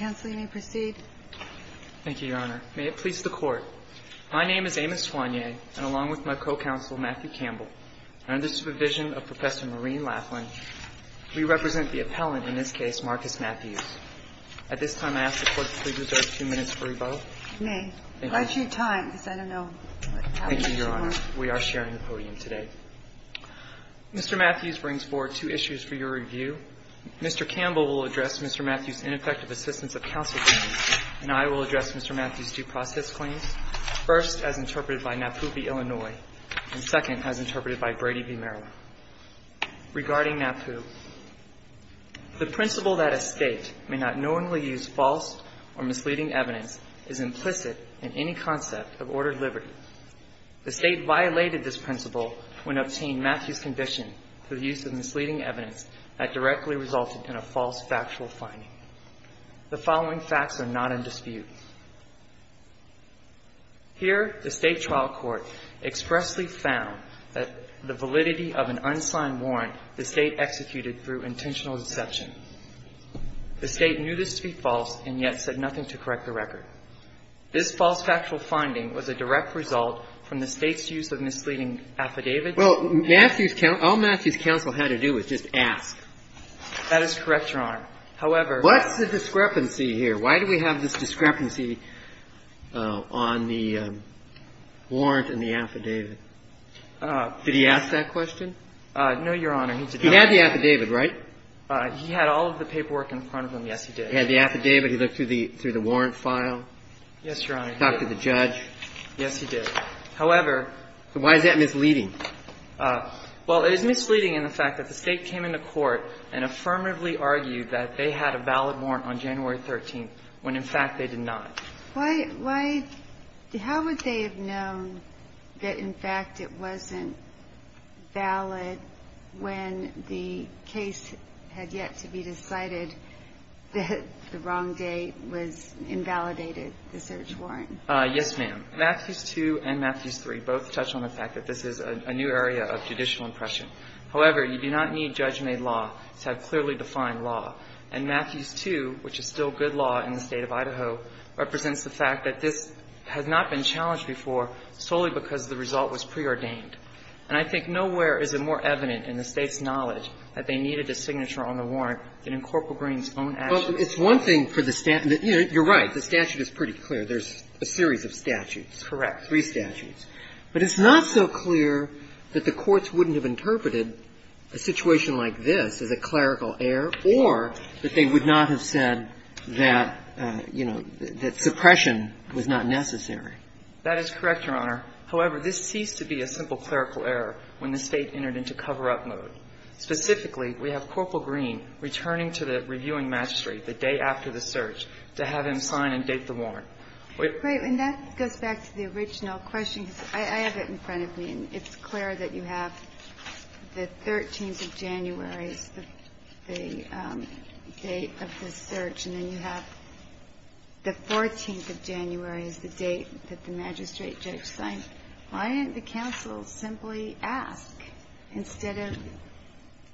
May it please the Court, my name is Amos Twanye, and along with my co-counsel Matthew Campbell, and under the supervision of Professor Maureen Laughlin, we represent the appellant in this case, Marcus Matthews. At this time, I ask the Court to please reserve two minutes for rebuttal. Thank you, Your Honor. We are sharing the podium today. Mr. Matthews brings forward two issues for your review. Mr. Campbell will address Mr. Matthews' ineffective assistance of counsel to me, and I will address Mr. Matthews' due process claims, first as interpreted by Napu v. Illinois, and second as interpreted by Brady v. Maryland. Regarding Napu, the principle that a State may not knowingly use false or misleading evidence is implicit in any concept of ordered liberty. The State violated this principle when it obtained Matthews' conviction for the use of misleading evidence that directly resulted in a false factual finding. Here, the State trial court expressly found that the validity of an unsigned warrant the State executed through intentional deception. The State knew this to be false and yet said nothing to correct the record. This false factual finding was a direct result from the State's use of misleading affidavits. Well, Matthews' counsel – all Matthews' counsel had to do was just ask. That is correct, Your Honor. However – What's the discrepancy here? Why do we have this discrepancy on the warrant and the affidavit? Did he ask that question? No, Your Honor. He did not. He had the affidavit, right? He had all of the paperwork in front of him. Yes, he did. He had the affidavit. He looked through the warrant file. Yes, Your Honor. He talked to the judge. Yes, he did. However – So why is that misleading? Well, it is misleading in the fact that the State came into court and affirmatively argued that they had a valid warrant on January 13th, when, in fact, they did not. Why – how would they have known that, in fact, it wasn't valid when the case had yet to be decided that the wrong date was invalidated, the search warrant? Yes, ma'am. Matthews 2 and Matthews 3 both touch on the fact that this is a new area of judicial impression. However, you do not need judge-made law to have clearly defined law. And Matthews 2, which is still good law in the State of Idaho, represents the fact that this has not been challenged before solely because the result was preordained. And I think nowhere is it more evident in the State's knowledge that they needed a signature on the warrant than in Corporal Green's own actions. Well, it's one thing for the – you're right, the statute is pretty clear. There's a series of statutes. Correct. Three statutes. But it's not so clear that the courts wouldn't have interpreted a situation like this as a clerical error or that they would not have said that, you know, that suppression was not necessary. That is correct, Your Honor. However, this ceased to be a simple clerical error when the State entered into cover-up mode. Specifically, we have Corporal Green returning to the reviewing magistrate the day after the search to have him sign and date the warrant. Wait. And that goes back to the original question. I have it in front of me, and it's clear that you have the 13th of January as the date of the search, and then you have the 14th of January as the date that the magistrate judge signed. Why didn't the counsel simply ask, instead of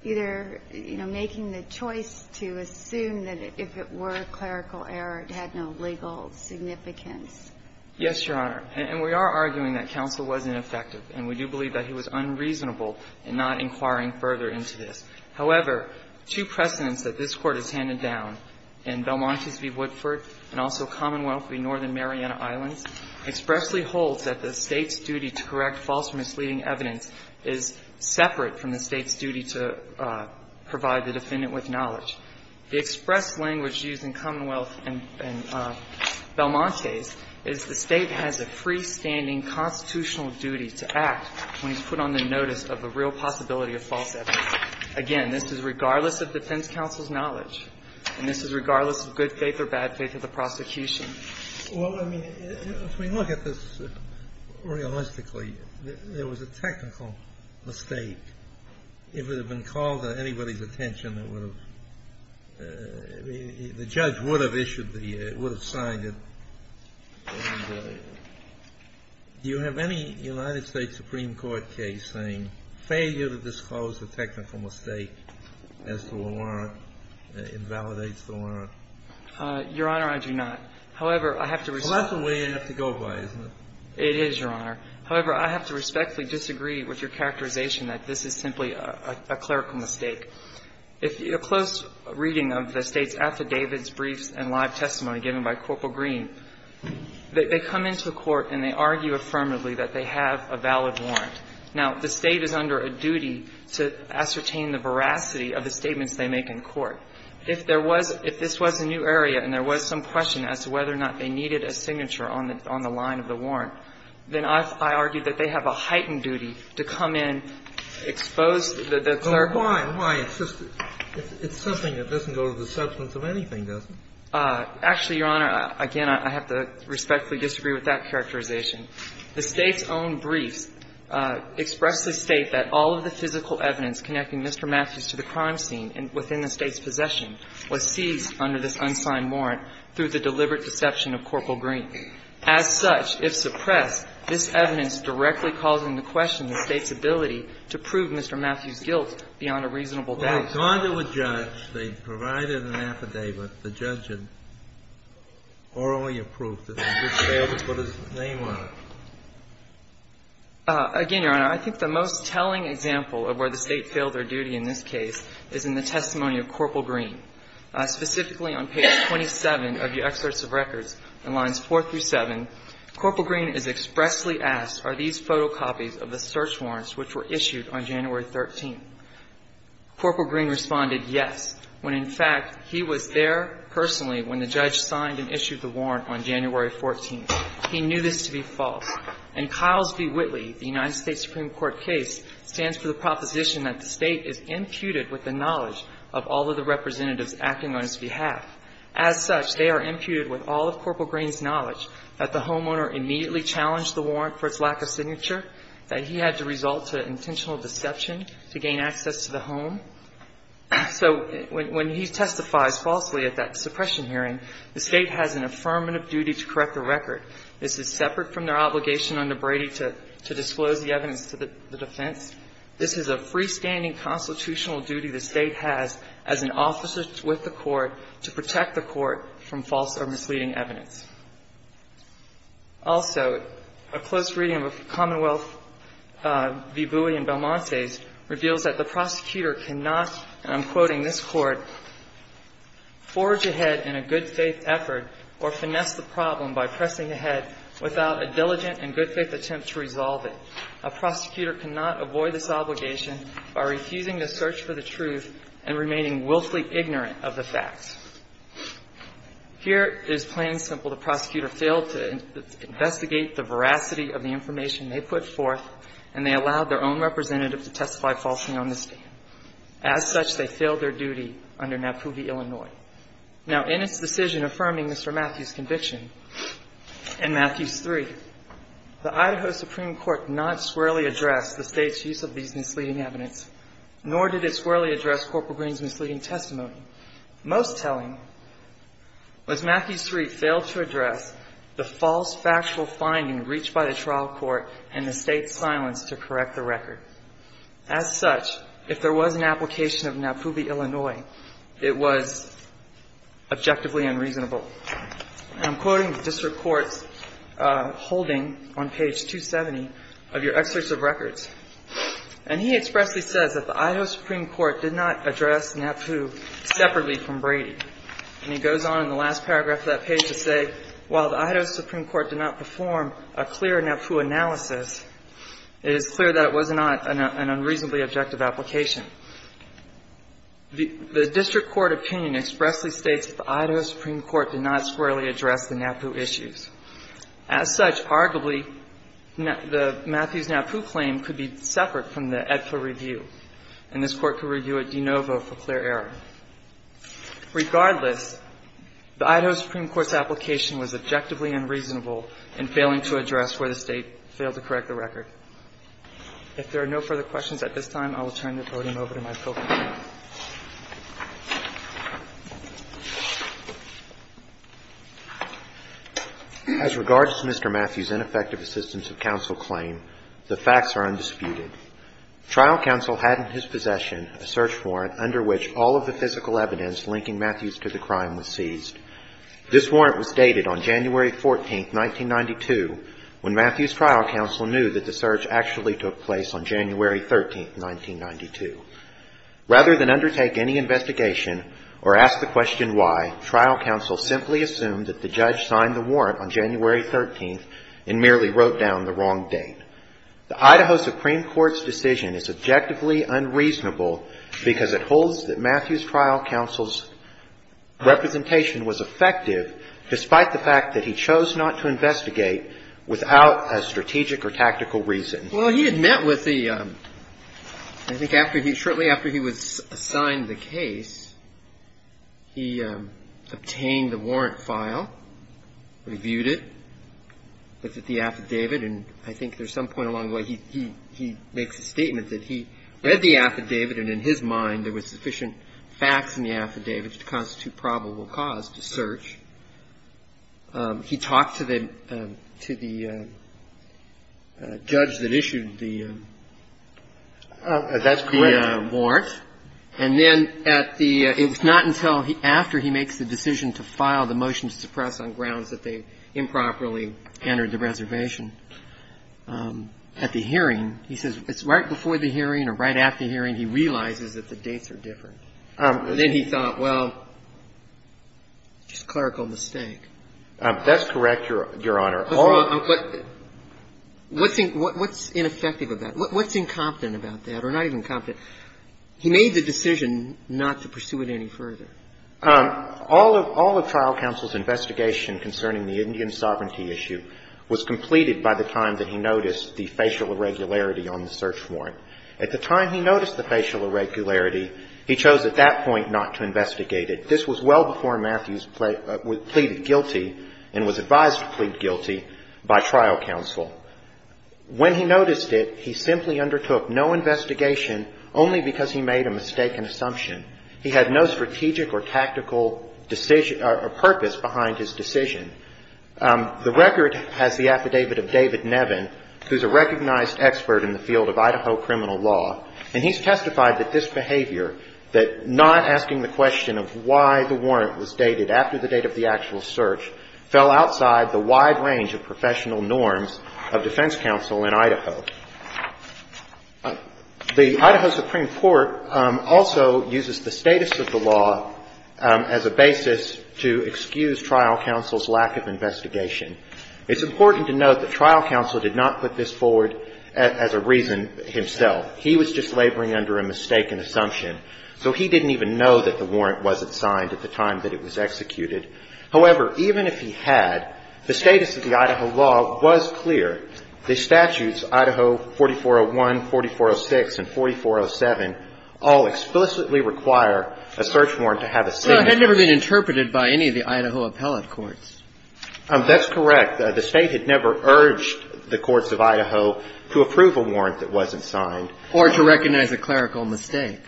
either, you know, making the choice to assume that if it were a clerical error, it had no legal significance? Yes, Your Honor. And we are arguing that counsel was ineffective, and we do believe that he was unreasonable in not inquiring further into this. However, two precedents that this Court has handed down in Belmont v. Woodford and also Commonwealth v. Northern Mariana Islands expressly holds that the State's duty to correct false or misleading evidence is separate from the State's duty to provide the defendant with knowledge. The express language used in Commonwealth and Belmont case is the State has a freestanding constitutional duty to act when he's put on the notice of a real possibility of false evidence. Again, this is regardless of defense counsel's knowledge, and this is regardless of good faith or bad faith of the prosecution. Well, I mean, if we look at this realistically, there was a technical mistake. If it had been called to anybody's attention, it would have – the judge would have issued the – would have signed it. Do you have any United States Supreme Court case saying failure to disclose a technical mistake as to a warrant invalidates the warrant? Your Honor, I do not. However, I have to respectfully – Well, that's the way you have to go by, isn't it? It is, Your Honor. However, I have to respectfully disagree with your characterization that this is simply a clerical mistake. If a close reading of the State's affidavits, briefs and live testimony given by Corporal Green, they come into the court and they argue affirmatively that they have a valid warrant. Now, the State is under a duty to ascertain the veracity of the statements they make in court. If there was – if this was a new area and there was some question as to whether or not they needed a signature on the line of the warrant, then I argue that they have a heightened duty to come in, expose the clerical – Well, why? Why? It's just – it's something that doesn't go to the substance of anything, does it? Actually, Your Honor, again, I have to respectfully disagree with that characterization. The State's own briefs expressly state that all of the physical evidence connecting Mr. Matthews to the crime scene within the State's possession was seized under this exception of Corporal Green. As such, if suppressed, this evidence directly calls into question the State's ability to prove Mr. Matthews' guilt beyond a reasonable doubt. Well, they had gone to a judge, they provided an affidavit, the judge had orally approved it, and they just failed to put his name on it. Again, Your Honor, I think the most telling example of where the State failed their duty in this case is in the testimony of Corporal Green. Specifically on page 27 of your excerpts of records, in lines 4 through 7, Corporal Green is expressly asked, are these photocopies of the search warrants which were issued on January 13th? Corporal Green responded, yes, when in fact he was there personally when the judge signed and issued the warrant on January 14th. He knew this to be false. In Kyle's v. Whitley, the United States Supreme Court case stands for the proposition that the State is imputed with the knowledge of all of the representatives acting on its behalf. As such, they are imputed with all of Corporal Green's knowledge that the homeowner immediately challenged the warrant for its lack of signature, that he had to result to intentional deception to gain access to the home. So when he testifies falsely at that suppression hearing, the State has an affirmative duty to correct the record. This is separate from their obligation under Brady to disclose the evidence to the defense. This is a freestanding constitutional duty the State has as an officer with the court to protect the court from false or misleading evidence. Also, a close reading of Commonwealth v. Bowie and Belmonte's reveals that the prosecutor cannot, and I'm quoting this court, "...forge ahead in a good-faith effort or finesse the problem by pressing ahead without a diligent and good-faith attempt to resolve it. A prosecutor cannot avoid this obligation by refusing to search for the truth and remaining willfully ignorant of the facts." Here, it is plain and simple. The prosecutor failed to investigate the veracity of the information they put forth, and they allowed their own representative to testify falsely on this stand. As such, they failed their duty under Napubi, Illinois. Now, in its decision affirming Mr. Matthews' conviction in Matthews III, the Idaho Supreme Court not squarely addressed the State's use of these misleading evidence, nor did it squarely address Corporal Green's misleading testimony. Most telling was Matthews III failed to address the false factual finding reached by the trial court and the State's silence to correct the record. As such, if there was an application of Napubi, Illinois, it was objectively unreasonable. And I'm quoting the district court's holding on page 270 of your excerpts of records. And he expressly says that the Idaho Supreme Court did not address NAPU separately from Brady. And he goes on in the last paragraph of that page to say, while the Idaho Supreme Court did not perform a clear NAPU analysis, it is clear that it was not an unreasonably objective application. The district court opinion expressly states that the Idaho Supreme Court did not squarely address the NAPU issues. As such, arguably, the Matthews-NAPU claim could be separate from the AEDPA review, and this Court could review it de novo for clear error. Regardless, the Idaho Supreme Court's application was objectively unreasonable in failing to address where the State failed to correct the record. If there are no further questions at this time, I will turn the podium over to Mr. Matthews and turn it over to my co-panel. As regards to Mr. Matthews' ineffective assistance of counsel claim, the facts are undisputed. Trial counsel had in his possession a search warrant under which all of the physical evidence linking Matthews to the crime was seized. This warrant was dated on January 14, 1992, when Matthews' trial counsel knew that the search actually took place on January 13, 1992. Rather than undertake any investigation or ask the question why, trial counsel simply assumed that the judge signed the warrant on January 13 and merely wrote down the wrong date. The Idaho Supreme Court's decision is objectively unreasonable because it holds that Matthews' trial counsel's representation was effective, despite the fact that he chose not to investigate without a strategic or tactical reason. Well, he had met with the – I think after he – shortly after he was assigned the case, he obtained the warrant file, reviewed it, looked at the affidavit, and I think there's some point along the way he makes a statement that he read the affidavit and in his mind there was sufficient facts in the affidavit to constitute probable cause to search. He talked to the – to the judge that issued the warrant. That's correct. And then at the – it was not until after he makes the decision to file the motion to suppress on grounds that they improperly entered the reservation. At the hearing, he says it's right before the hearing or right after the hearing he realizes that the dates are different. And then he thought, well, it's a clerical mistake. That's correct, Your Honor. But what's ineffective about it? What's incompetent about that or not even competent? He made the decision not to pursue it any further. All of trial counsel's investigation concerning the Indian sovereignty issue was completed by the time that he noticed the facial irregularity on the search warrant. At the time he noticed the facial irregularity, he chose at that point not to investigate it. This was well before Matthews pleaded guilty and was advised to plead guilty by trial counsel. When he noticed it, he simply undertook no investigation only because he made a mistaken assumption. He had no strategic or tactical purpose behind his decision. The record has the affidavit of David Nevin, who's a recognized expert in the field of Idaho criminal law, and he's testified that this behavior, that not asking the question of why the warrant was dated after the date of the actual search, fell outside the wide range of professional norms of defense counsel in Idaho. The Idaho Supreme Court also uses the status of the law as a basis to excuse trial counsel's lack of investigation. It's important to note that trial counsel did not put this forward as a reason himself. He was just laboring under a mistaken assumption. So he didn't even know that the warrant wasn't signed at the time that it was executed. However, even if he had, the status of the Idaho law was clear. The statutes, Idaho 4401, 4406, and 4407, all explicitly require a search warrant to have a signature. Well, it had never been interpreted by any of the Idaho appellate courts. That's correct. The State had never urged the courts of Idaho to approve a warrant that wasn't signed. Or to recognize a clerical mistake.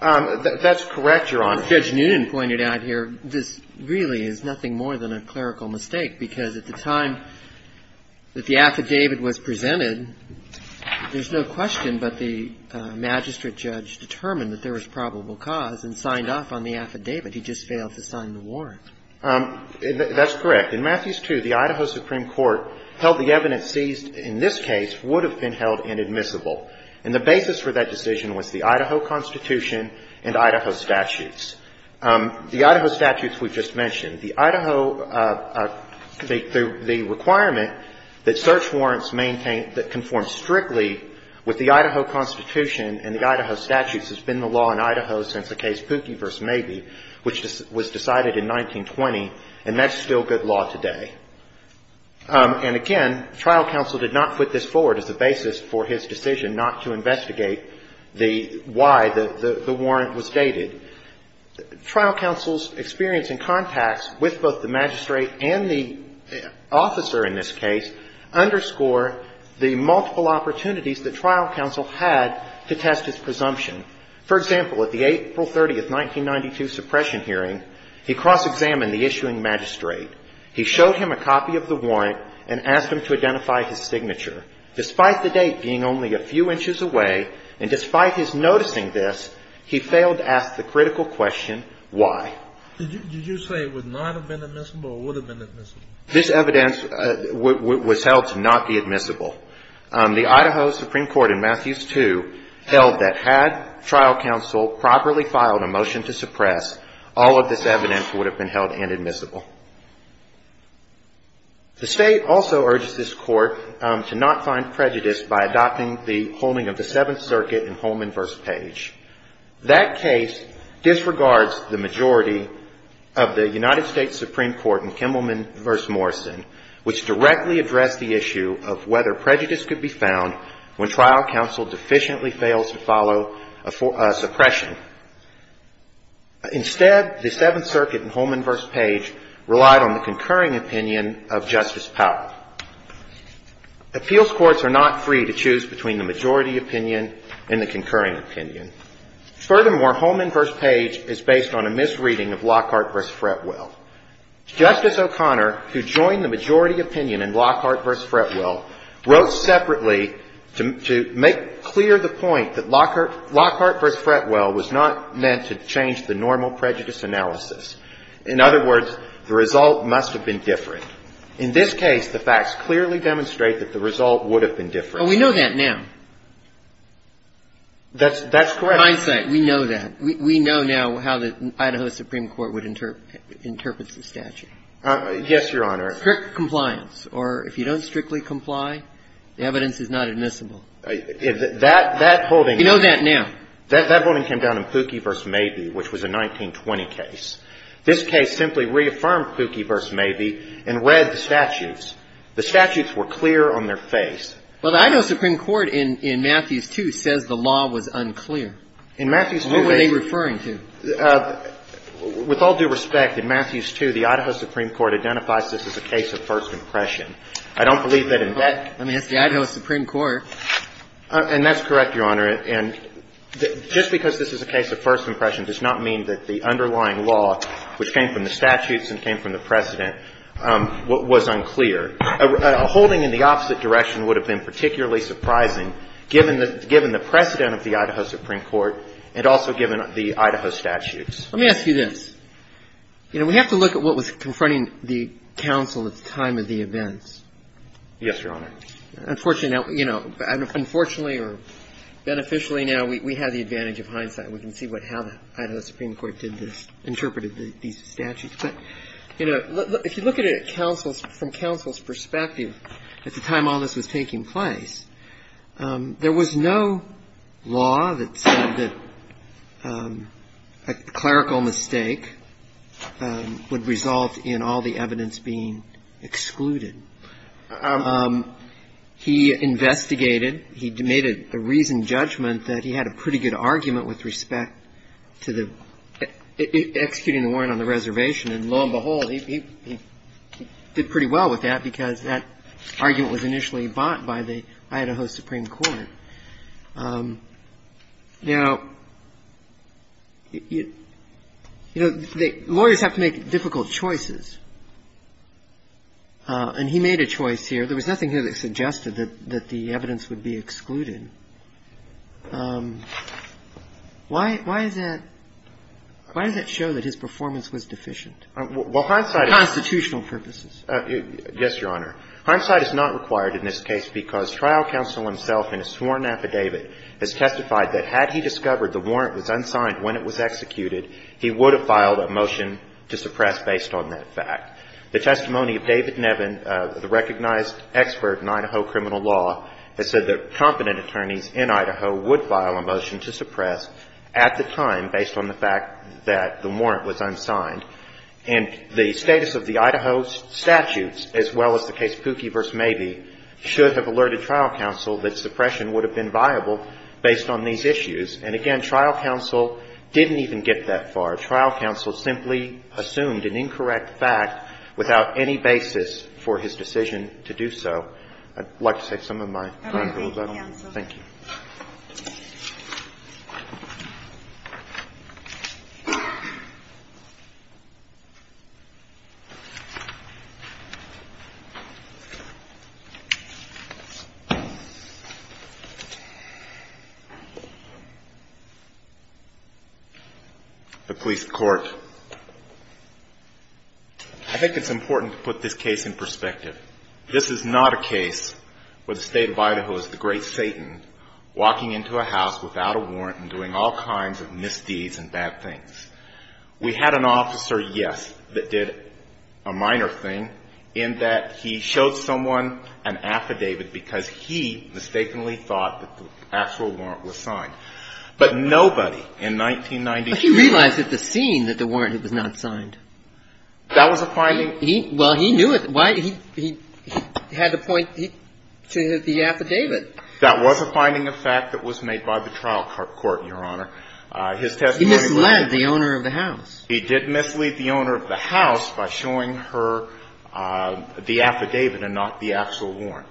That's correct, Your Honor. Judge Noonan pointed out here this really is nothing more than a clerical mistake, because at the time that the affidavit was presented, there's no question but the magistrate judge determined that there was probable cause and signed off on the affidavit. He just failed to sign the warrant. That's correct. In Matthews 2, the Idaho Supreme Court held the evidence seized in this case would have been held inadmissible. And the basis for that decision was the Idaho Constitution and Idaho statutes. The Idaho statutes we just mentioned, the Idaho, the requirement that search warrants maintain that conform strictly with the Idaho Constitution and the Idaho statutes has been the law in Idaho since the case Pookie v. Mabee, which was decided in 1920. And that's still good law today. And, again, trial counsel did not put this forward as a basis for his decision not to investigate the why the warrant was dated. Trial counsel's experience and contacts with both the magistrate and the officer in this case underscore the multiple opportunities that trial counsel had to test his presumption. For example, at the April 30, 1992 suppression hearing, he cross-examined the issuing magistrate. He showed him a copy of the warrant and asked him to identify his signature. Despite the date being only a few inches away and despite his noticing this, he failed to ask the critical question why. Did you say it would not have been admissible or would have been admissible? This evidence was held to not be admissible. The Idaho Supreme Court in Matthews II held that had trial counsel properly filed a motion to suppress, all of this evidence would have been held inadmissible. The state also urged this court to not find prejudice by adopting the holding of the Seventh Circuit in Holman v. Page. That case disregards the majority of the United States Supreme Court in Kimmelman v. Morrison, which directly addressed the issue of whether prejudice could be found when trial counsel deficiently fails to follow a suppression. Instead, the Seventh Circuit in Holman v. Page relied on the concurring opinion of Justice Powell. Appeals courts are not free to choose between the majority opinion and the concurring opinion. Furthermore, Holman v. Page is based on a misreading of Lockhart v. Fretwell. Justice O'Connor, who joined the majority opinion in Lockhart v. Fretwell, wrote separately to make clear the point that Lockhart v. Fretwell was not meant to change the normal prejudice analysis. In other words, the result must have been different. In this case, the facts clearly demonstrate that the result would have been different. But we know that now. That's correct. In hindsight, we know that. We know now how the Idaho Supreme Court would interpret the statute. Yes, Your Honor. Strict compliance. Or if you don't strictly comply, the evidence is not admissible. That holding – You know that now. That holding came down in Pukie v. Mabee, which was a 1920 case. This case simply reaffirmed Pukie v. Mabee and read the statutes. The statutes were clear on their face. Well, the Idaho Supreme Court in Matthews 2 says the law was unclear. In Matthews 2 – What were they referring to? With all due respect, in Matthews 2, the Idaho Supreme Court identifies this as a case of first impression. I don't believe that in that – I mean, it's the Idaho Supreme Court. And that's correct, Your Honor. And just because this is a case of first impression does not mean that the underlying law, which came from the statutes and came from the precedent, was unclear. A holding in the opposite direction would have been particularly surprising given the precedent of the Idaho Supreme Court and also given the Idaho statutes. Let me ask you this. You know, we have to look at what was confronting the counsel at the time of the events. Yes, Your Honor. Unfortunately – you know, unfortunately or beneficially now, we have the advantage of hindsight. We can see how the Idaho Supreme Court did this, interpreted these statutes. But, you know, if you look at it from counsel's perspective at the time all this was taking place, there was no law that said that a clerical mistake would result in all the evidence being excluded. He investigated. He made a reasoned judgment that he had a pretty good argument with respect to the – executing the warrant on the reservation. And lo and behold, he did pretty well with that because that argument was initially bought by the Idaho Supreme Court. Now, you know, lawyers have to make difficult choices. And he made a choice here. There was nothing here that suggested that the evidence would be excluded. Why does that show that his performance was deficient for constitutional purposes? Well, hindsight – yes, Your Honor. Hindsight is not required in this case because trial counsel himself in his sworn affidavit has testified that had he discovered the warrant was unsigned when it was executed, he would have filed a motion to suppress based on that fact. The testimony of David Nevin, the recognized expert in Idaho criminal law, has said that competent attorneys in Idaho would file a motion to suppress at the time based on the fact that the warrant was unsigned. And the status of the Idaho statutes, as well as the case Pookie v. Mabee, should have alerted trial counsel that suppression would have been viable based on these issues. And, again, trial counsel didn't even get that far. Trial counsel simply assumed an incorrect fact without any basis for his decision to do so. I'd like to take some of my time. Thank you. The police court. I think it's important to put this case in perspective. This is not a case where the state of Idaho is the great Satan walking into a house without a warrant and doing all kinds of misdeeds and bad things. We had an officer, yes, that did a minor thing in that he showed someone an affidavit because he mistakenly thought that the actual warrant was signed. But nobody in 1992 – But he realized at the scene that the warrant was not signed. That was a finding – Well, he knew it. He had to point to the affidavit. That was a finding of fact that was made by the trial court, Your Honor. His testimony – He misled the owner of the house. He did mislead the owner of the house by showing her the affidavit and not the actual warrant.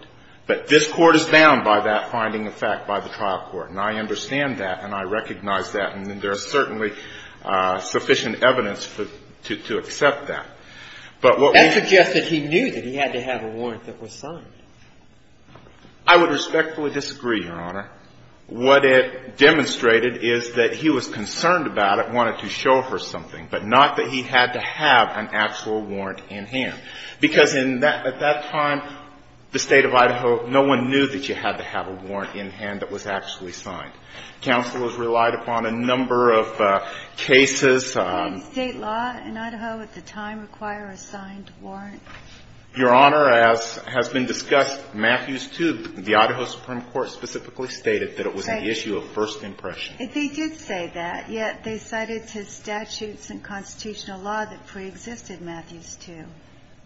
But this Court is bound by that finding of fact by the trial court. And I understand that and I recognize that. And there's certainly sufficient evidence to accept that. But what we – That suggests that he knew that he had to have a warrant that was signed. I would respectfully disagree, Your Honor. What it demonstrated is that he was concerned about it, wanted to show her something, but not that he had to have an actual warrant in hand. Because at that time, the state of Idaho, no one knew that you had to have a warrant in hand that was actually signed. Counselors relied upon a number of cases – Did state law in Idaho at the time require a signed warrant? Your Honor, as has been discussed, Matthews II, the Idaho Supreme Court, specifically stated that it was an issue of first impression. They did say that, yet they cited his statutes and constitutional law that preexisted Matthews II.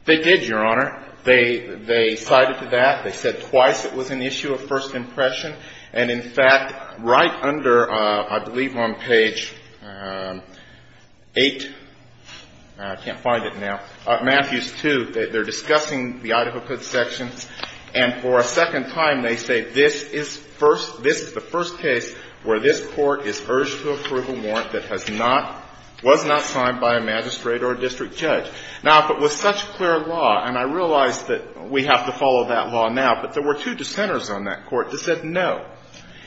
They did, Your Honor. They cited that. They said twice it was an issue of first impression. And, in fact, right under, I believe, on page 8 – I can't find it now – Matthews II, they're discussing the Idaho Code sections. And for a second time, they say this is first – this is the first case where this Court is urged to approve a warrant that has not – was not signed by a magistrate or a district judge. Now, if it was such clear law – and I realize that we have to follow that law now – but there were two dissenters on that Court that said no.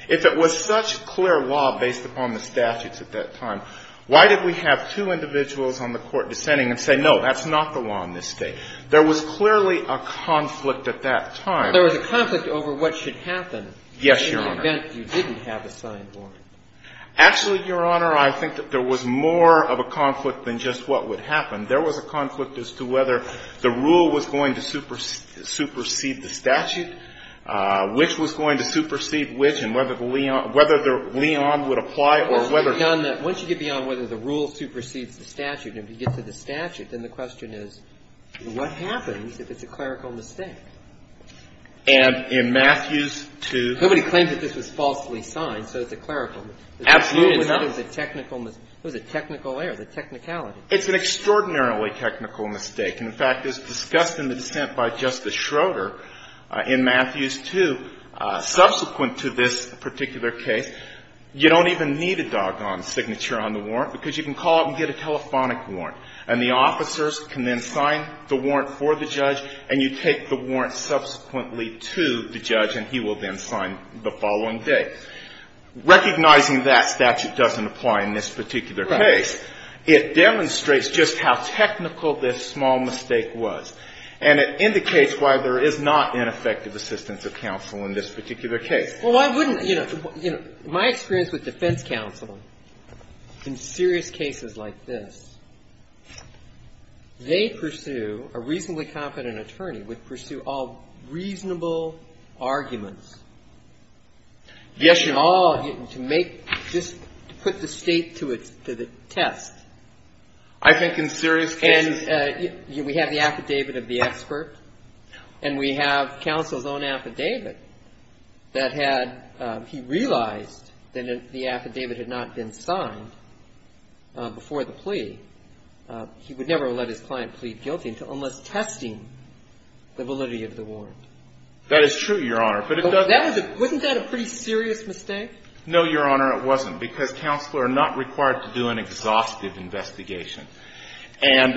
If it was such clear law based upon the statutes at that time, why did we have two individuals on the Court dissenting and say, no, that's not the law in this State? There was clearly a conflict at that time. There was a conflict over what should happen in the event you didn't have a signed warrant. Yes, Your Honor. Actually, Your Honor, I think that there was more of a conflict than just what would happen. There was a conflict as to whether the rule was going to supersede the statute, which was going to supersede which, and whether the – whether Leon would apply or whether – Once you get beyond whether the rule supersedes the statute, and if you get to the statute, then the question is, what happens if it's a clerical mistake? And in Matthews II – Nobody claims that this was falsely signed, so it's a clerical – Absolutely not. It was a technical – it was a technical error, a technicality. It's an extraordinarily technical mistake. And, in fact, as discussed in the dissent by Justice Schroeder in Matthews II, subsequent to this particular case, you don't even need a doggone signature on the warrant, because you can call up and get a telephonic warrant, and the officers can then sign the warrant for the judge, and you take the warrant subsequently to the judge, and he will then sign the following day. So recognizing that statute doesn't apply in this particular case, it demonstrates just how technical this small mistake was, and it indicates why there is not ineffective assistance of counsel in this particular case. Well, why wouldn't – you know, my experience with defense counsel in serious cases like this, they pursue – a reasonably competent attorney would pursue all reasonable arguments. Yes, Your Honor. To make – just to put the State to the test. I think in serious cases – And we have the affidavit of the expert, and we have counsel's own affidavit that had – he realized that the affidavit had not been signed before the plea. He would never have let his client plead guilty until – unless testing the validity of the warrant. That is true, Your Honor. But it doesn't – Wasn't that a pretty serious mistake? No, Your Honor, it wasn't, because counsel are not required to do an exhaustive investigation. And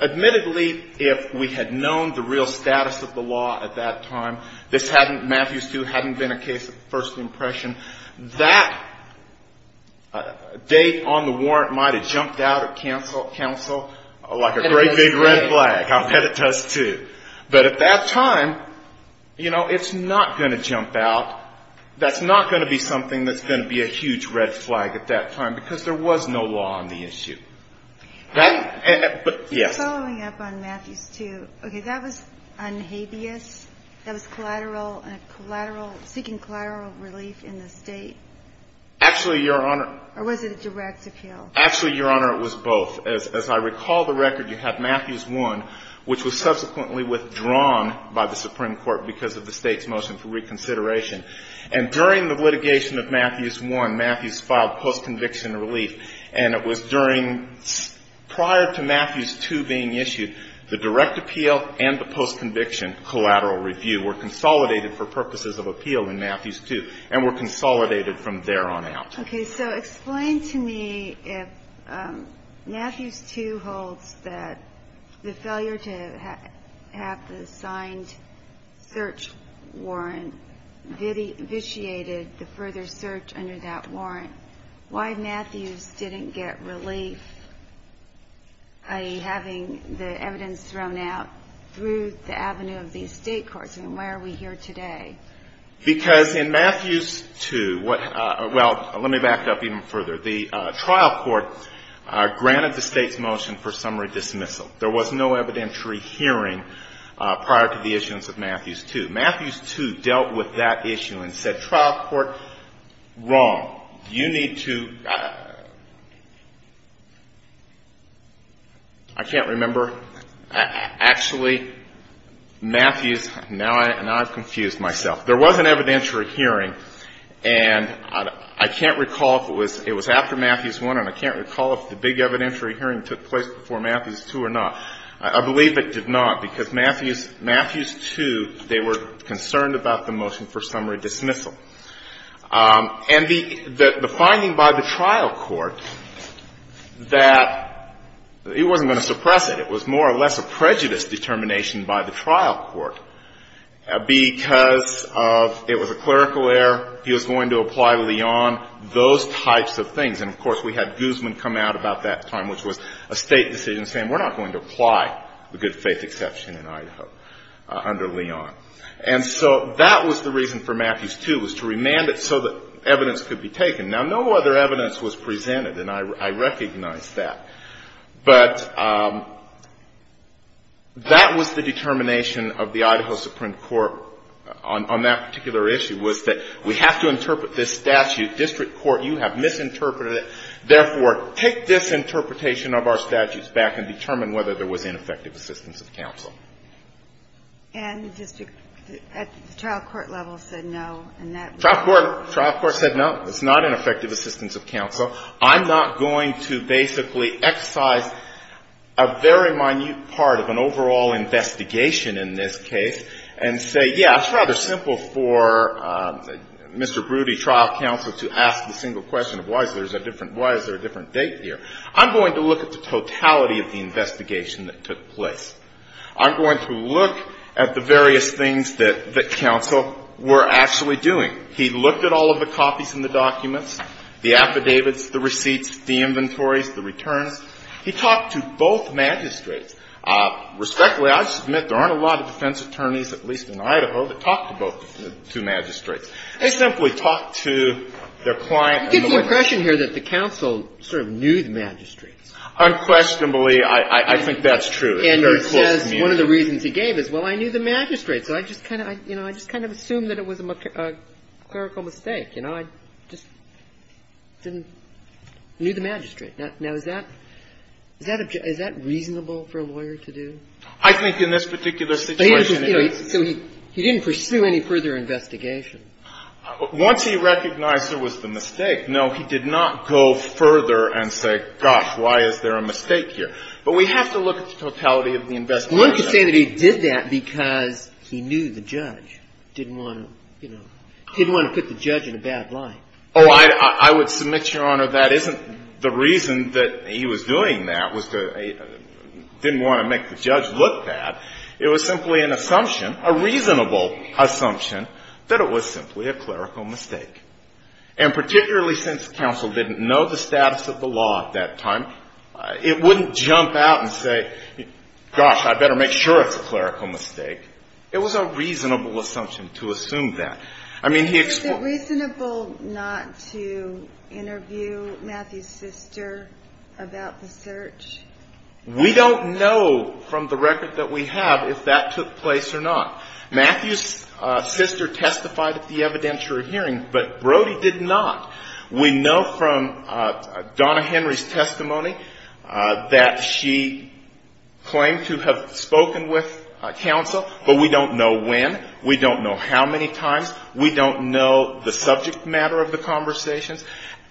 admittedly, if we had known the real status of the law at that time, this hadn't – Matthew Stu hadn't been a case of first impression. That date on the warrant might have jumped out at counsel like a great big red flag. I'll bet it does, too. But at that time, you know, it's not going to jump out. That's not going to be something that's going to be a huge red flag at that time, because there was no law on the issue. But, yes. Following up on Matthew Stu, okay, that was unhabeas? That was collateral – collateral – seeking collateral relief in the State? Actually, Your Honor – Or was it a direct appeal? Actually, Your Honor, it was both. As I recall the record, you have Matthews 1, which was subsequently withdrawn by the Supreme Court because of the State's motion for reconsideration. And during the litigation of Matthews 1, Matthews filed post-conviction relief, and it was during – prior to Matthews 2 being issued, the direct appeal and the post-conviction collateral review were consolidated for purposes of appeal in Matthews 2 and were consolidated from there on out. Okay. So explain to me if Matthews 2 holds that the failure to have the signed search warrant vitiated the further search under that warrant. Why Matthews didn't get relief, i.e., having the evidence thrown out through the avenue of the State courts, and why are we here today? Because in Matthews 2 – well, let me back up even further. The trial court granted the State's motion for summary dismissal. There was no evidentiary hearing prior to the issuance of Matthews 2. Matthews 2 dealt with that issue and said, trial court, wrong. You need to – I can't remember. Actually, Matthews – now I've confused myself. There was an evidentiary hearing, and I can't recall if it was – it was after Matthews 1, and I can't recall if the big evidentiary hearing took place before Matthews 2 or not. I believe it did not, because Matthews – Matthews 2, they were concerned about the motion for summary dismissal. And the finding by the trial court that – it wasn't going to suppress it. It was more or less a prejudice determination by the trial court because of – it was a clerical error. He was going to apply Leon, those types of things. And, of course, we had Guzman come out about that time, which was a State decision saying, we're not going to apply the good faith exception in Idaho under Leon. And so that was the reason for Matthews 2, was to remand it so that evidence could be taken. Now, no other evidence was presented, and I recognize that. But that was the determination of the Idaho Supreme Court on that particular issue, was that we have to interpret this statute. District court, you have misinterpreted it. Therefore, take this interpretation of our statutes back and determine whether there was ineffective assistance of counsel. And the district – the trial court level said no, and that was – Trial court – trial court said no. It's not ineffective assistance of counsel. I'm not going to basically excise a very minute part of an overall investigation in this case and say, yeah, it's rather simple for Mr. Broody, trial counsel, to ask the single question of why is there a different date here. I'm going to look at the totality of the investigation that took place. I'm going to look at the various things that counsel were actually doing. He looked at all of the copies in the documents, the affidavits, the receipts, the inventories, the returns. He talked to both magistrates. Respectfully, I'll just admit there aren't a lot of defense attorneys, at least in Idaho, that talk to both the two magistrates. They simply talk to their client and the lawyer. Kagan. It gives the impression here that the counsel sort of knew the magistrates. Unquestionably, I think that's true. And he says one of the reasons he gave is, well, I knew the magistrates. So I just kind of, you know, I just kind of assumed that it was a clerical mistake. You know, I just didn't know the magistrate. Now, is that reasonable for a lawyer to do? I think in this particular situation. So he didn't pursue any further investigation. Once he recognized there was the mistake, no, he did not go further and say, gosh, why is there a mistake here. But we have to look at the totality of the investigation. So one could say that he did that because he knew the judge, didn't want to, you know, didn't want to put the judge in a bad light. Oh, I would submit, Your Honor, that isn't the reason that he was doing that was to didn't want to make the judge look bad. It was simply an assumption, a reasonable assumption, that it was simply a clerical mistake. And particularly since counsel didn't know the status of the law at that time, it wouldn't jump out and say, gosh, I better make sure it's a clerical mistake. It was a reasonable assumption to assume that. I mean, he explored. Is it reasonable not to interview Matthew's sister about the search? We don't know from the record that we have if that took place or not. Matthew's sister testified at the evidentiary hearing, but Brody did not. We know from Donna Henry's testimony that she claimed to have spoken with counsel, but we don't know when, we don't know how many times, we don't know the subject matter of the conversations.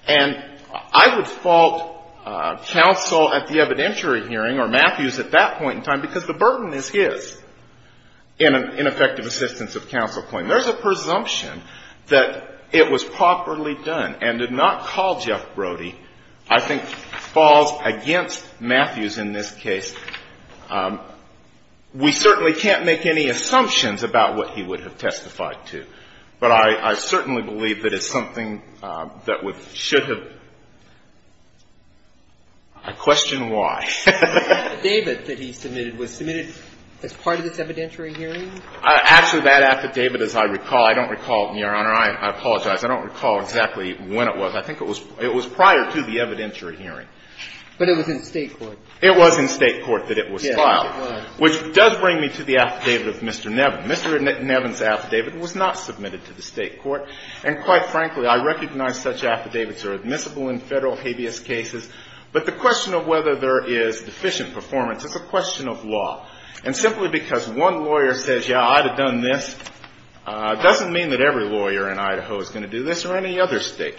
And I would fault counsel at the evidentiary hearing or Matthews at that point in time because the burden is his in an ineffective assistance of counsel claim. There's a presumption that it was properly done and did not call Jeff Brody, I think, falls against Matthews in this case. We certainly can't make any assumptions about what he would have testified to, but I certainly believe that it's something that should have. I question why. David, that he submitted, was submitted as part of this evidentiary hearing? Actually, that affidavit, as I recall, I don't recall, Your Honor. I apologize. I don't recall exactly when it was. I think it was prior to the evidentiary hearing. But it was in State court. It was in State court that it was filed. Yes, it was. Which does bring me to the affidavit of Mr. Nevin. Mr. Nevin's affidavit was not submitted to the State court. And quite frankly, I recognize such affidavits are admissible in Federal habeas cases, but the question of whether there is deficient performance is a question of law. And simply because one lawyer says, yeah, I'd have done this, doesn't mean that every lawyer in Idaho is going to do this or any other State.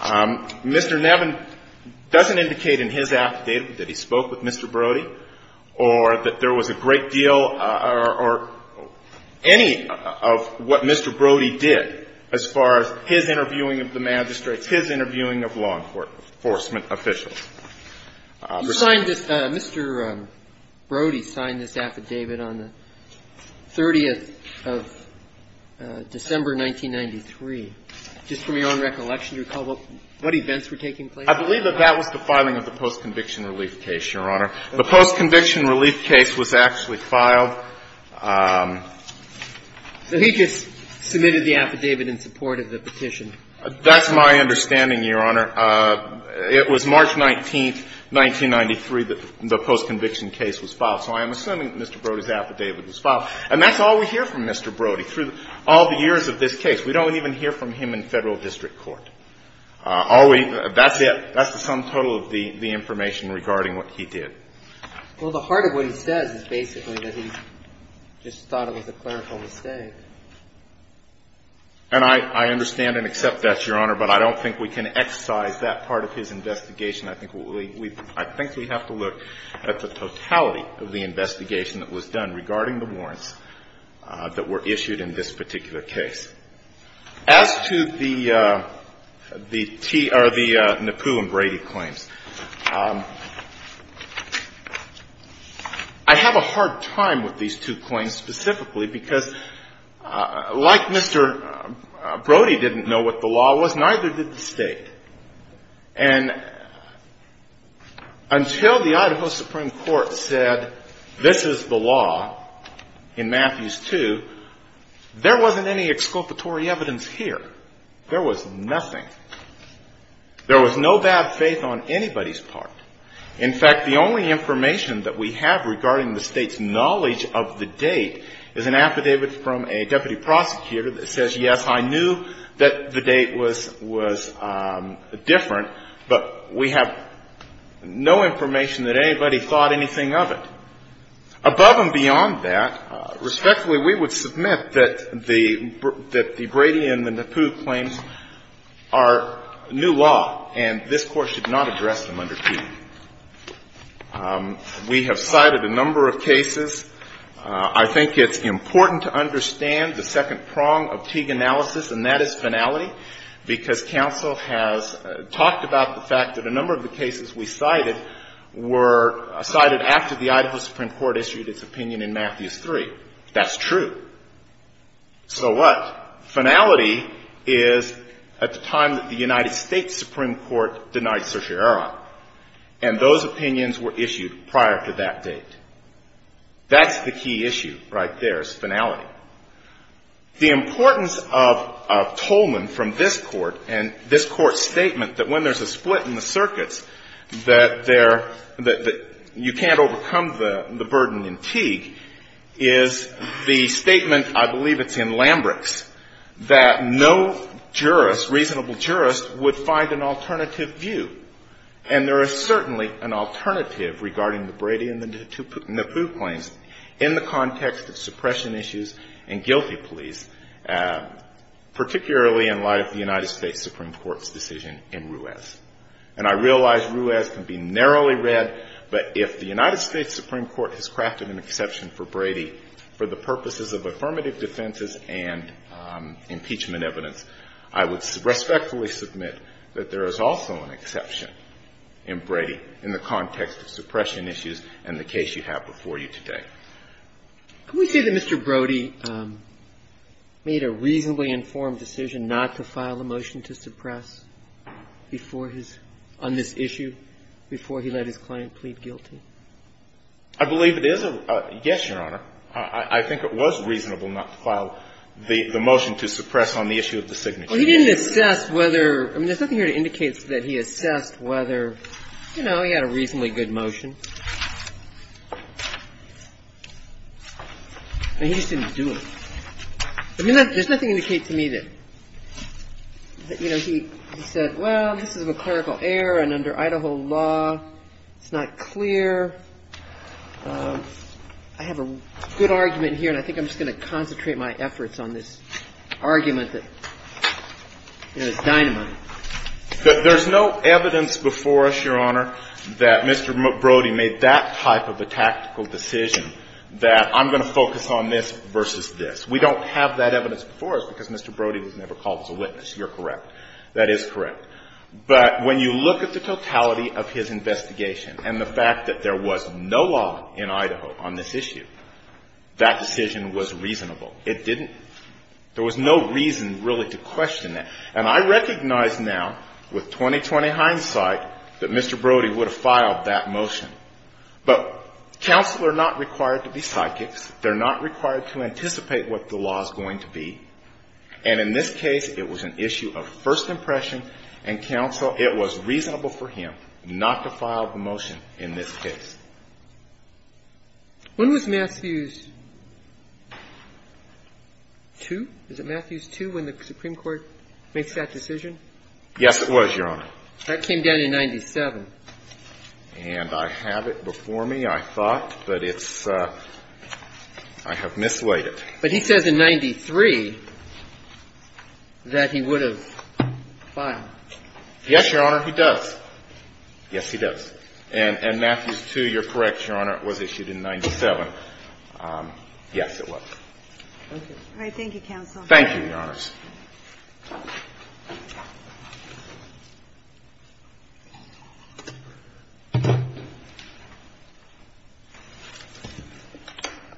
Mr. Nevin doesn't indicate in his affidavit that he spoke with Mr. Brody or that there was a great deal or any of what Mr. Brody did as far as his interviewing of the magistrates, his interviewing of law enforcement officials. Mr. Brody signed this affidavit on the 30th of December 1993. Just from your own recollection, do you recall what events were taking place? I believe that that was the filing of the post-conviction relief case, Your Honor. The post-conviction relief case was actually filed. So he just submitted the affidavit in support of the petition. That's my understanding, Your Honor. It was March 19th, 1993 that the post-conviction case was filed. So I am assuming that Mr. Brody's affidavit was filed. And that's all we hear from Mr. Brody through all the years of this case. We don't even hear from him in Federal district court. That's the sum total of the information regarding what he did. Well, the heart of what he says is basically that he just thought it was a clerical mistake. And I understand and accept that, Your Honor, but I don't think we can exercise that part of his investigation. I think we have to look at the totality of the investigation that was done regarding the warrants that were issued in this particular case. As to the Nippoo and Brady claims, I have a hard time with these two claims specifically because, like Mr. Brody didn't know what the law was, neither did the State. And until the Idaho Supreme Court said this is the law in Matthews 2, there wasn't any exculpatory evidence here. There was nothing. There was no bad faith on anybody's part. In fact, the only information that we have regarding the State's knowledge of the date is an affidavit from a deputy prosecutor that says, yes, I knew that the date was different, but we have no information that anybody thought anything of it. Above and beyond that, respectfully, we would submit that the Brady and the Nippoo claims are new law, and this Court should not address them under Teague. We have cited a number of cases. I think it's important to understand the second prong of Teague analysis, and that is finality, because counsel has talked about the fact that a number of the cases we cited were cited after the Idaho Supreme Court issued its opinion in Matthews 3. That's true. So what? Finality is at the time that the United States Supreme Court denied certiorari, and those opinions were issued prior to that date. That's the key issue right there is finality. The importance of Tolman from this Court and this Court's statement that when there's a split in the circuits that there — that you can't overcome the burden in Teague is the statement, I believe it's in Lambrix, that no jurist, reasonable jurist, would find an alternative view. And there is certainly an alternative regarding the Brady and the Nippoo claims in the context of suppression issues and guilty pleas, particularly in light of the United States Supreme Court's decision in Ruiz. And I realize Ruiz can be narrowly read, but if the United States Supreme Court has crafted an exception for Brady for the purposes of affirmative defenses and impeachment evidence, I would respectfully submit that there is also an exception in Brady in the Can we say that Mr. Brody made a reasonably informed decision not to file a motion to suppress before his — on this issue before he let his client plead guilty? I believe it is a — yes, Your Honor. I think it was reasonable not to file the motion to suppress on the issue of the signature. He didn't assess whether — I mean, there's nothing here to indicate that he assessed whether, you know, he had a reasonably good motion. I mean, he just didn't do it. I mean, there's nothing to indicate to me that, you know, he said, well, this is a clerical error, and under Idaho law, it's not clear. I have a good argument here, and I think I'm just going to concentrate my efforts on this argument that, you know, it's dynamite. There's no evidence before us, Your Honor, that Mr. Brody made that type of a tactical decision that I'm going to focus on this versus this. We don't have that evidence before us because Mr. Brody was never called as a witness. You're correct. That is correct. But when you look at the totality of his investigation and the fact that there was no law in Idaho on this issue, that decision was reasonable. It didn't — there was no reason really to question that. And I recognize now, with 20-20 hindsight, that Mr. Brody would have filed that motion. But counsel are not required to be psychics. They're not required to anticipate what the law is going to be. And in this case, it was an issue of first impression, and counsel — it was reasonable for him not to file the motion in this case. When was Matthews 2? Is it Matthews 2, when the Supreme Court makes that decision? Yes, it was, Your Honor. That came down in 97. And I have it before me, I thought, but it's — I have mislaid it. But he says in 93 that he would have filed. Yes, Your Honor, he does. Yes, he does. And Matthews 2, you're correct, Your Honor, was issued in 97. Yes, it was. Thank you. All right, thank you, counsel. Thank you, Your Honors.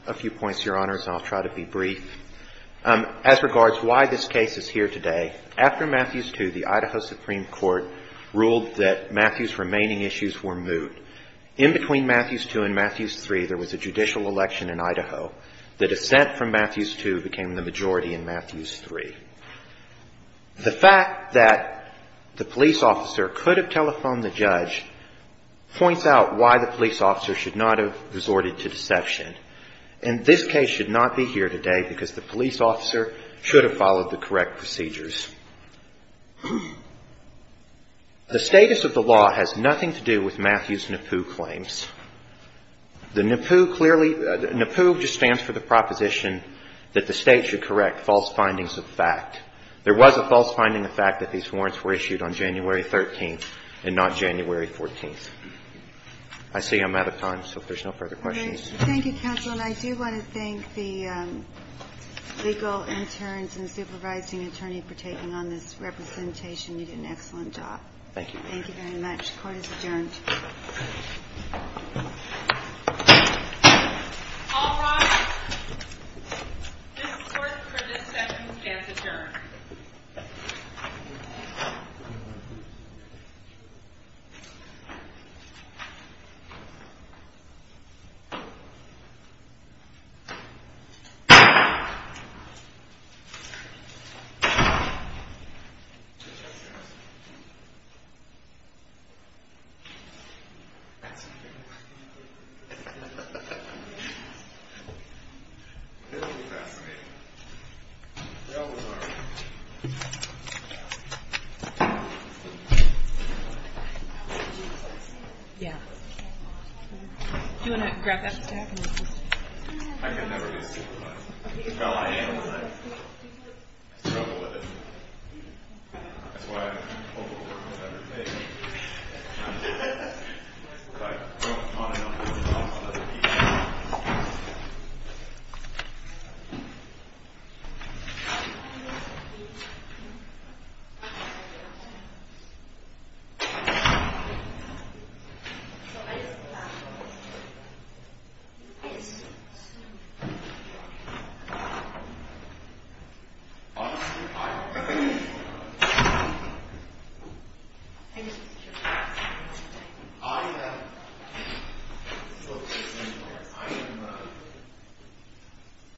A few points, Your Honors, and I'll try to be brief. As regards why this case is here today, after Matthews 2, the Idaho Supreme Court ruled that Matthews' remaining issues were moved. In between Matthews 2 and Matthews 3, there was a judicial election in Idaho. The dissent from Matthews 2 became the majority in Matthews 3. The fact that the police officer could have telephoned the judge points out why the police officer should not have resorted to deception. And this case should not be here today because the police officer should have followed the The status of the law has nothing to do with Matthews' NAPU claims. The NAPU clearly ñ NAPU just stands for the proposition that the State should correct false findings of fact. There was a false finding of fact that these warrants were issued on January 13th and not January 14th. I see I'm out of time, so if there's no further questions. Okay. Thank you, counsel. And I do want to thank the legal interns and supervising attorney for taking on this representation. You did an excellent job. Thank you. Thank you very much. Court is adjourned. All rise. This court for this session stands adjourned. Thank you. Thank you.